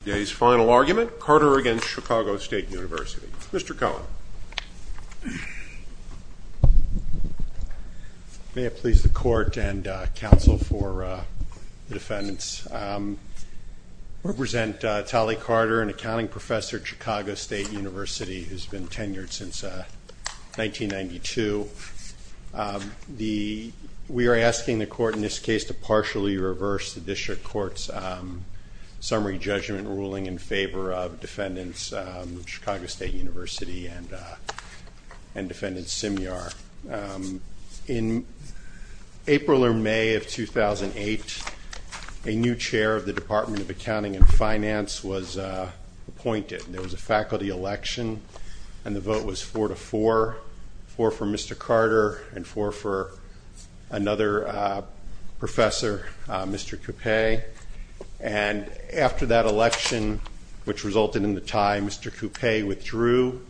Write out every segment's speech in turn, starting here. Today's final argument, Carter v. Chicago State University. Mr. Cohen. May it please the Court and counsel for the defendants, I represent Tolley Carter, an accounting professor at Chicago State University who has been tenured since 1992. We are asking the Court in this case to partially reverse the District Court's summary judgment ruling in favor of defendants of Chicago State University and defendants Semyar. In April or May of 2008, a new chair of the Department of Accounting and Finance was appointed. There was a faculty election and the vote was four to four, four for Mr. Carter and four for another professor, Mr. Coupe. And after that election, which resulted in the tie, Mr. Coupe withdrew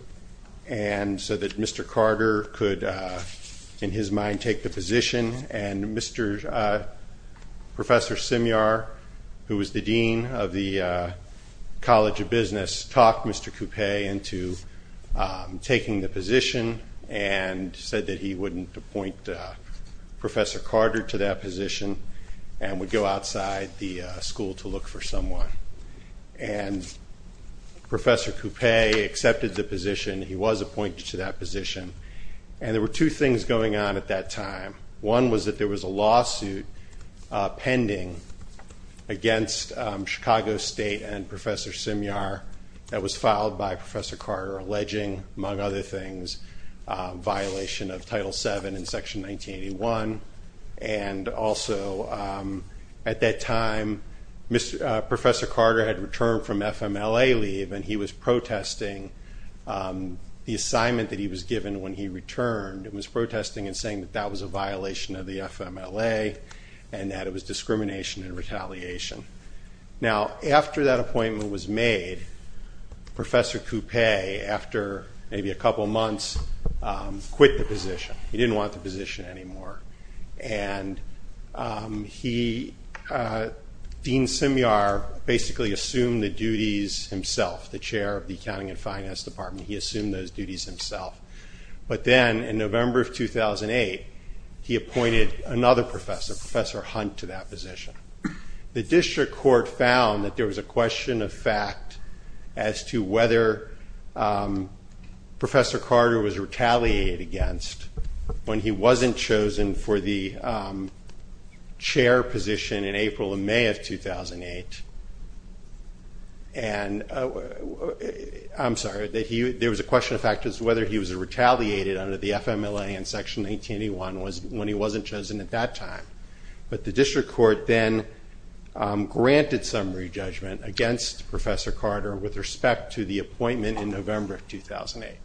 and so that Mr. Carter could in his mind take the position and Mr. Professor Semyar, who was the dean of the College of Business, talked Mr. Coupe into taking the position and said that he wouldn't appoint Professor Carter to that position and would go outside the school to look for someone. And Professor Coupe accepted the position. He was appointed to that position. And there were two things going on at that time. One was that there was a lawsuit pending against Chicago State and Professor Semyar that was filed by Professor Carter alleging, among other things, violation of Title VII in Section 1981. And also at that time, Professor Carter had returned from FMLA leave and he was protesting the assignment that he was given when he returned. He was protesting and saying that that was a violation of the FMLA and that it was discrimination and retaliation. Now, after that appointment was made, Professor Coupe, after maybe a couple months, quit the position. He didn't want the position anymore. And Dean Semyar basically assumed the duties himself, the chair of the Accounting and Finance Department. He assumed those duties himself. But then, in November of 2008, he appointed another professor, Professor Hunt, to that position. The district court found that there was a question of fact as to whether Professor Carter was retaliated against when he wasn't chosen for the chair position in April and May of 2008. And, I'm sorry, there was a question of fact as to whether he was retaliated under the FMLA in Section 1981 when he wasn't chosen at that time. But the district court then granted summary judgment against Professor Carter with respect to the appointment in November of 2008.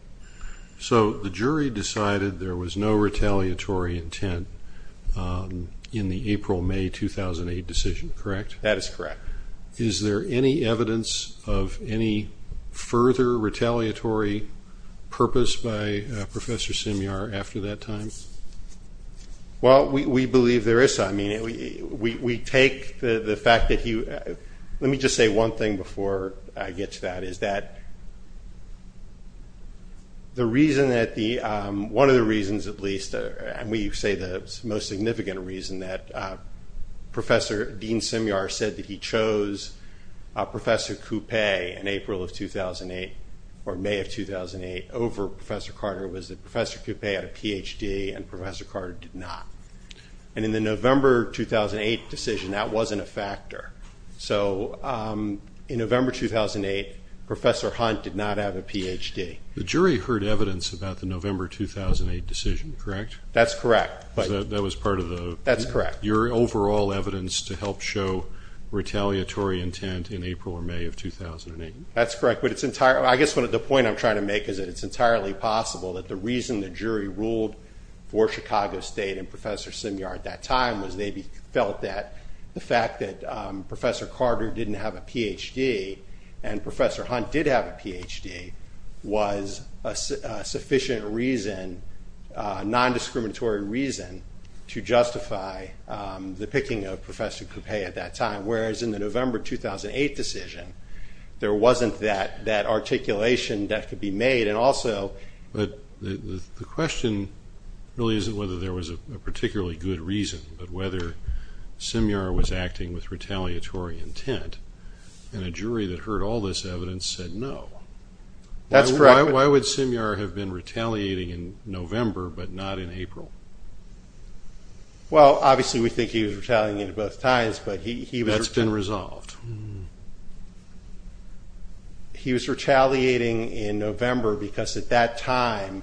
So, the jury decided there was no retaliatory intent in the April-May 2008 decision, correct? That is correct. Is there any evidence of any further retaliatory purpose by Professor Semyar after that time? Well, we believe there is. We take the fact that he let me just say one thing before I get to that. One of the reasons, at least, and we say the most significant reason, that Professor Dean Semyar said that he chose Professor Coupe in April of 2008 or May of 2008 over Professor Carter was that Professor Coupe had a Ph.D. and Professor Carter did not. And in the November 2008 decision, that wasn't a factor. So, in November 2008, Professor Hunt did not have a Ph.D. The jury heard evidence about the November 2008 decision, correct? That's correct. That was part of your overall evidence to help show retaliatory intent in April or May of 2008. That's correct. I guess the point I'm trying to make is that it's entirely possible that the reason the jury ruled for Chicago State and Professor Semyar at that time was they felt that the fact that Professor Carter didn't have a Ph.D. and Professor Hunt did have a Ph.D. was a sufficient reason, non-discriminatory reason, to justify the picking of Professor Coupe at that time. Whereas in the November 2008 decision, there wasn't that articulation that could be made and also... But the question really isn't whether there was a particularly good reason, but whether Semyar was acting with retaliatory intent. And a jury that heard all this evidence said no. That's correct. Why would Semyar have been retaliating in November but not in April? Well, obviously we think he was retaliating at both times. That's been resolved. He was retaliating in November because at that time,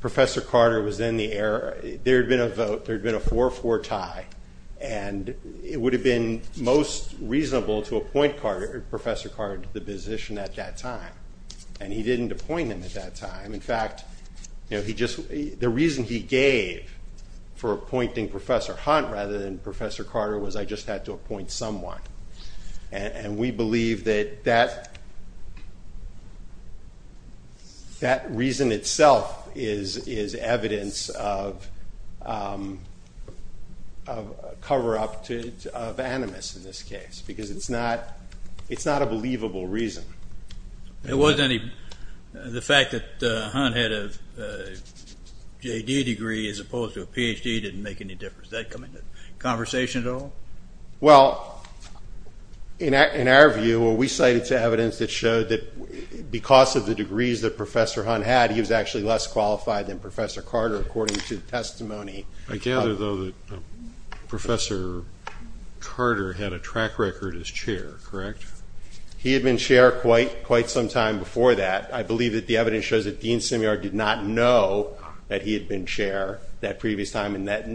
Professor Carter was in the air. There had been a vote. There had been a 4-4 tie. And it would have been most reasonable to appoint Professor Carter to the position at that time. And he didn't appoint him at that time. In fact, the reason he gave for appointing Professor Hunt rather than Professor Carter was I just had to appoint someone. And we believe that that reason itself is evidence of cover-up of animus in this case. Because it's not a believable reason. The fact that Hunt had a J.D. degree as opposed to a Ph.D. didn't make any difference. Did that come into conversation at all? Well, in our view, we cited evidence that showed that because of the degrees that Professor Hunt had, he was actually less qualified than Professor Carter according to the testimony. I gather though that Professor Carter had a track record as chair, correct? He had been chair quite some time before that. I believe that the evidence shows that Dean Semyar did not know that he had been chair that previous time. Professor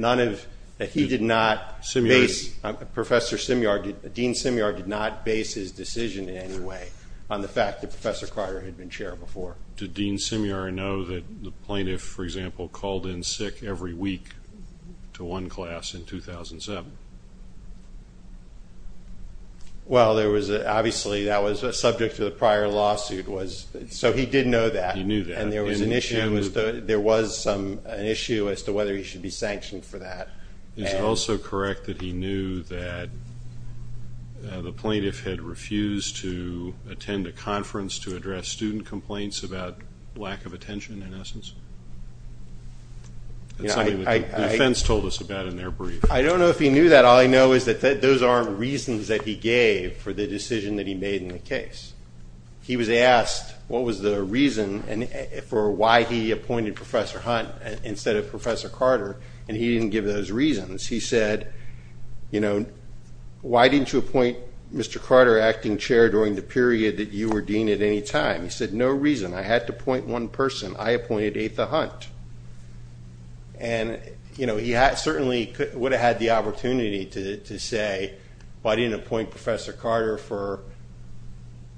Semyar, Dean Semyar did not base his decision in any way on the fact that Professor Carter had been chair before. Did Dean Semyar know that the plaintiff, for example, called in sick every week to one class in 2007? Well, obviously that was subject to the prior lawsuit. So he did know that. And there was an issue as to whether he should be sanctioned for that. Is it also correct that he knew that the plaintiff had refused to attend a conference to address student complaints about lack of attention in essence? That's something that the defense told us about in their brief. I don't know if he knew that. All I know is that those aren't reasons that he gave for the decision that he made in the case. He was asked what was the reason for why he appointed Professor Hunt instead of Professor Carter, and he didn't give those reasons. He said, you know, why didn't you appoint Mr. Carter acting chair during the period that you were dean at any time? He said, no reason. I had to appoint one person. I appointed Atha Hunt. And, you know, he certainly would have had the opportunity to say, why didn't you appoint Professor Carter for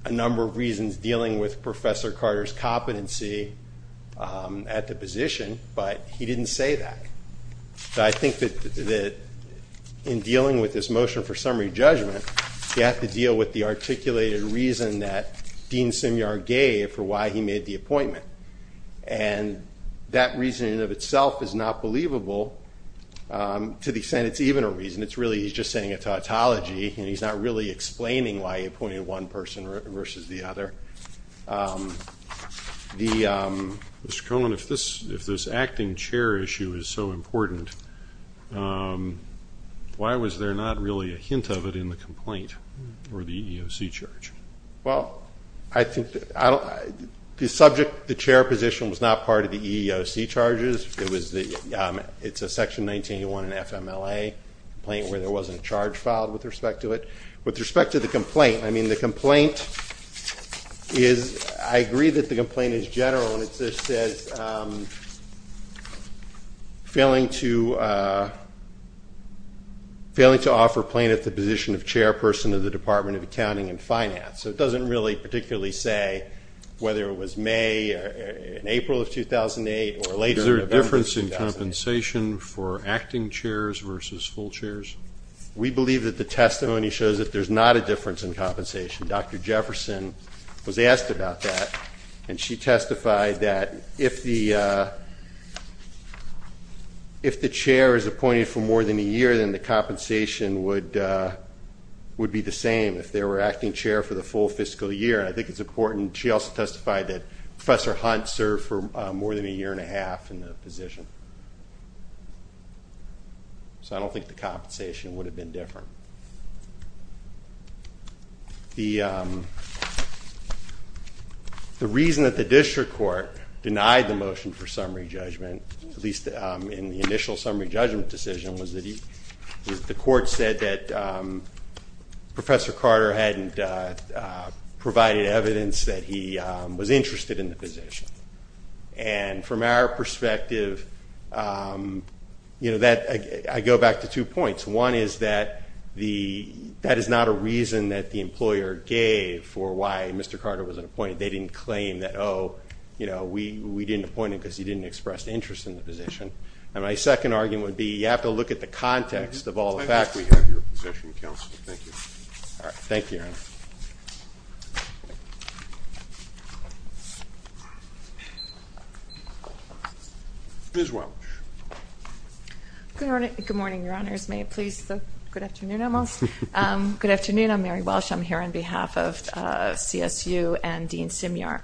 a number of reasons dealing with Professor Carter's competency at the position, but he didn't say that. I think that in dealing with this motion for summary judgment, you have to deal with the reason in and of itself is not believable. To the extent it's even a reason, it's really he's just saying a tautology and he's not really explaining why he appointed one person versus the other. Mr. Cohen, if this acting chair issue is so important, why was there not really a hint of it in the complaint or the EEOC charge? Well, the subject, the chair position was not part of the EEOC charges. It's a section 1981 in FMLA complaint where there wasn't a charge filed with respect to it. With respect to the complaint, I mean, the complaint is, I agree that the complaint is general and it just says, failing to So it doesn't really particularly say whether it was May or April of 2008. Is there a difference in compensation for acting chairs versus full chairs? We believe that the testimony shows that there's not a difference in compensation. Dr. Jefferson was asked about that. And she testified that if the chair is appointed for more than a year, then the compensation would be the same if they were acting chair for the full fiscal year. I think it's important. She also testified that Professor Hunt served for more than a year and a half in the position. So I don't think the compensation would have been different. The reason that the the court said that Professor Carter hadn't provided evidence that he was interested in the position. And from our perspective I go back to two points. One is that that is not a reason that the employer gave for why Mr. Carter wasn't appointed. They didn't claim that So we didn't appoint him because he didn't express interest in the position. And my second argument would be you have to look at the context of all the facts. Ms. Welch. Good morning, your honors. May it please the good afternoon almost. Good afternoon. I'm Mary Welch. I'm here on behalf of CSU and Dean Simiar.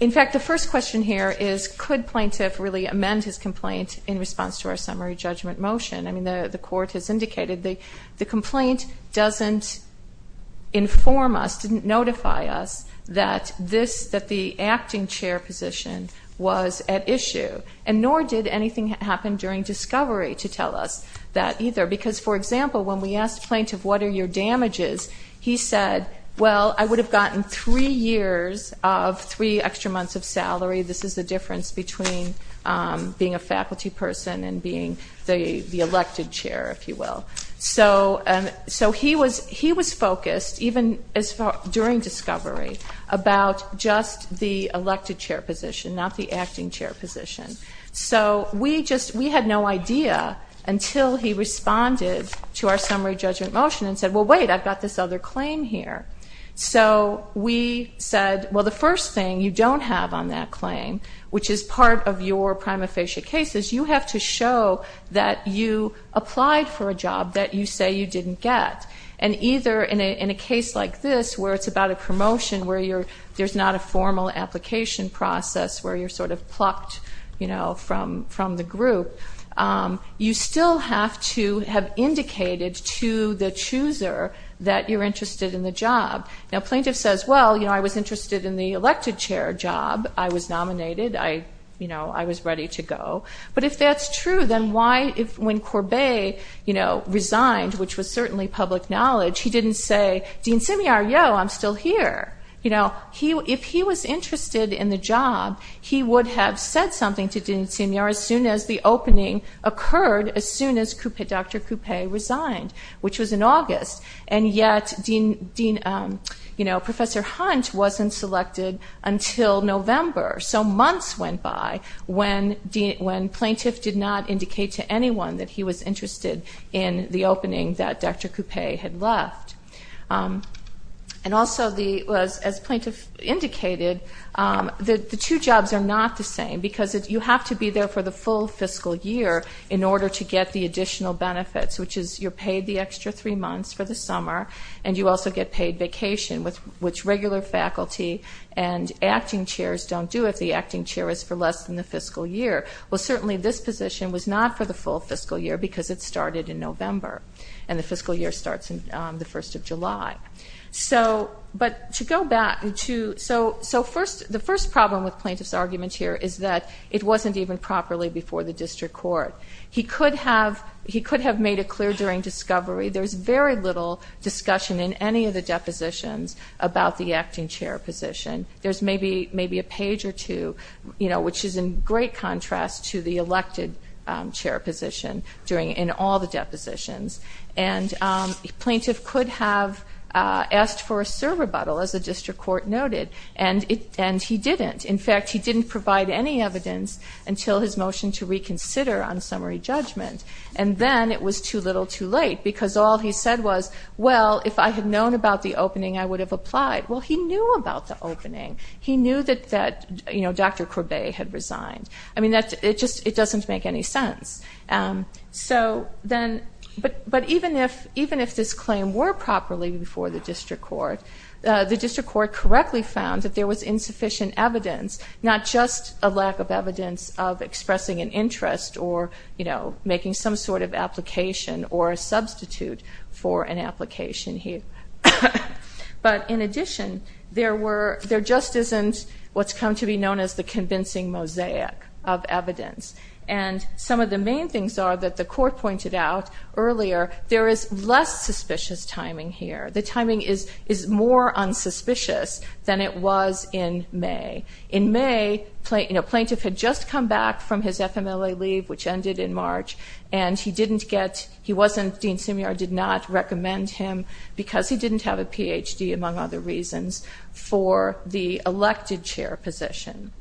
In fact the first question here is could plaintiff really amend his complaint in response to our summary judgment motion. I mean the court has indicated the complaint doesn't inform us, didn't notify us that the acting chair position was at issue. And nor did anything happen during discovery to tell us that either. Because for example when we asked plaintiff what are your damages he said well I would have gotten three years of three extra months of salary. This is the difference between being a faculty person and being the elected chair if you will. So he was focused even during discovery about just the elected chair position not the acting chair position. So we had no idea until he responded to our summary judgment motion and said well wait I've got this other claim here. So we said well the first thing you don't have on that claim which is part of your prima facie case is you have to show that you applied for a job that you say you didn't get. And either in a case like this where it's about a promotion where there's not a formal application process where you're sort of plucked from the group. You still have to have indicated to the chooser that you're interested in the job. Now plaintiff says well I was interested in the elected chair job. I was nominated. I was ready to go. But if that's true then why when Courbet resigned which was certainly public knowledge he didn't say Dean Simiar yo I'm still here. If he was interested in the job he would have said something to Dean Simiar as soon as the opening occurred as soon as Dr. Coupe resigned which was in November. So months went by when plaintiff did not indicate to anyone that he was interested in the opening that Dr. Coupe had left. And also as plaintiff indicated the two jobs are not the same because you have to be there for the full fiscal year in order to get the additional benefits which is you're paid the extra three months for the summer and you also get paid vacation which regular faculty and acting chairs don't do if the acting chair is for less than the fiscal year. Well certainly this position was not for the full fiscal year because it started in November and the fiscal year starts on the first of July. So the first problem with plaintiff's argument here is that it wasn't even properly before the district court. He could have made it clear during discovery there's very little discussion in any of the depositions about the acting chair position. There's maybe a page or two which is in great contrast to the elected chair position in all the depositions. And plaintiff could have asked for a serve rebuttal as the district court noted and he didn't. In fact he didn't provide any evidence until his motion to reconsider on summary judgment and then it was too little too late because all he said was well if I had known about the opening I would have applied. Well he knew about the opening. He knew that Dr. Coupe had resigned. It just doesn't make any sense. But even if this claim were properly before the district court the district court correctly found that there was insufficient evidence not just a lack of evidence of expressing an interest or making some sort of application or a substitute for an application here. But in addition there just isn't what's come to be known as the convincing mosaic of evidence. And some of the main things are that the court pointed out earlier there is less suspicious timing here. The timing is more unsuspicious than it was in May. In May plaintiff had just come back from his FMLA leave which ended in March and he didn't get, he wasn't, Dean Simiard did not chair a position.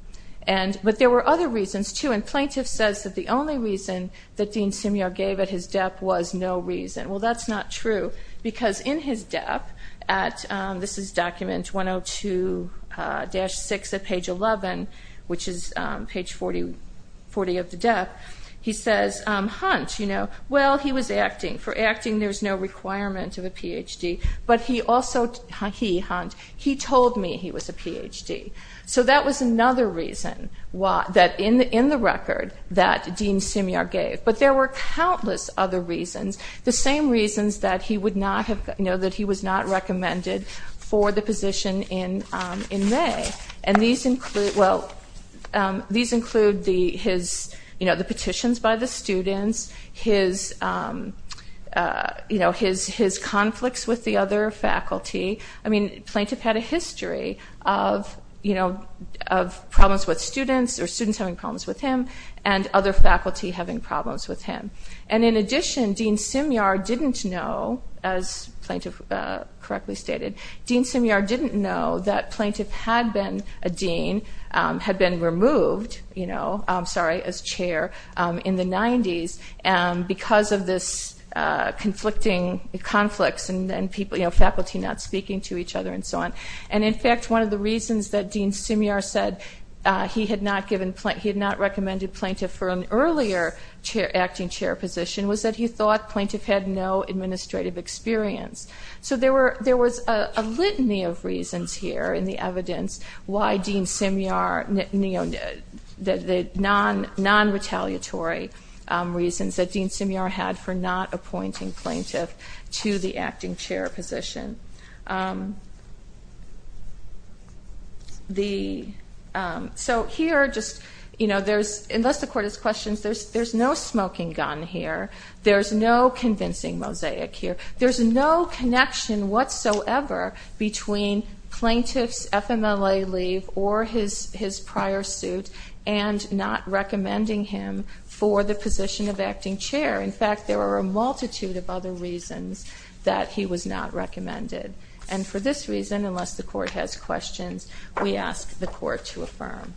But there were other reasons too and plaintiff says that the only reason that Dean Simiard gave at his death was no reason. Well that's not true because in his death this is document 102-6 at page 11 which is page 40 of the death he says Hunt, well he was acting. For acting there's no requirement of a PhD. But he also, he Hunt, he told me he was a PhD. So that was another reason that in the record that Dean Simiard gave. But there were countless other reasons. The same reasons that he would not have, that he was not recommended for the position in May. And these include, well these include his the petitions by the students, his conflicts with the other faculty. I mean plaintiff had a history of problems with students or students having problems with him and other faculty having problems with him. And in addition Dean Simiard didn't know, as plaintiff correctly stated, Dean Simiard didn't know that plaintiff had been a dean, had been removed, I'm sorry, as chair in the 90s because of this conflicting conflicts and faculty not speaking to each other and so on. And in fact one of the reasons that Dean Simiard said he had not recommended plaintiff for an earlier acting chair position was that he thought there was a litany of reasons here in the evidence why Dean Simiard the non-retaliatory reasons that Dean Simiard had for not appointing plaintiff to the acting chair position. So here just, unless the court has questions, there's no smoking gun here, there's no convincing mosaic here, there's no connection whatsoever between plaintiff's FMLA leave or his prior suit and not recommending him for the position of acting chair. In fact there are a multitude of other reasons that he was not recommended. And for this reason, unless the court has questions, we ask the committee to adjourn for this recess.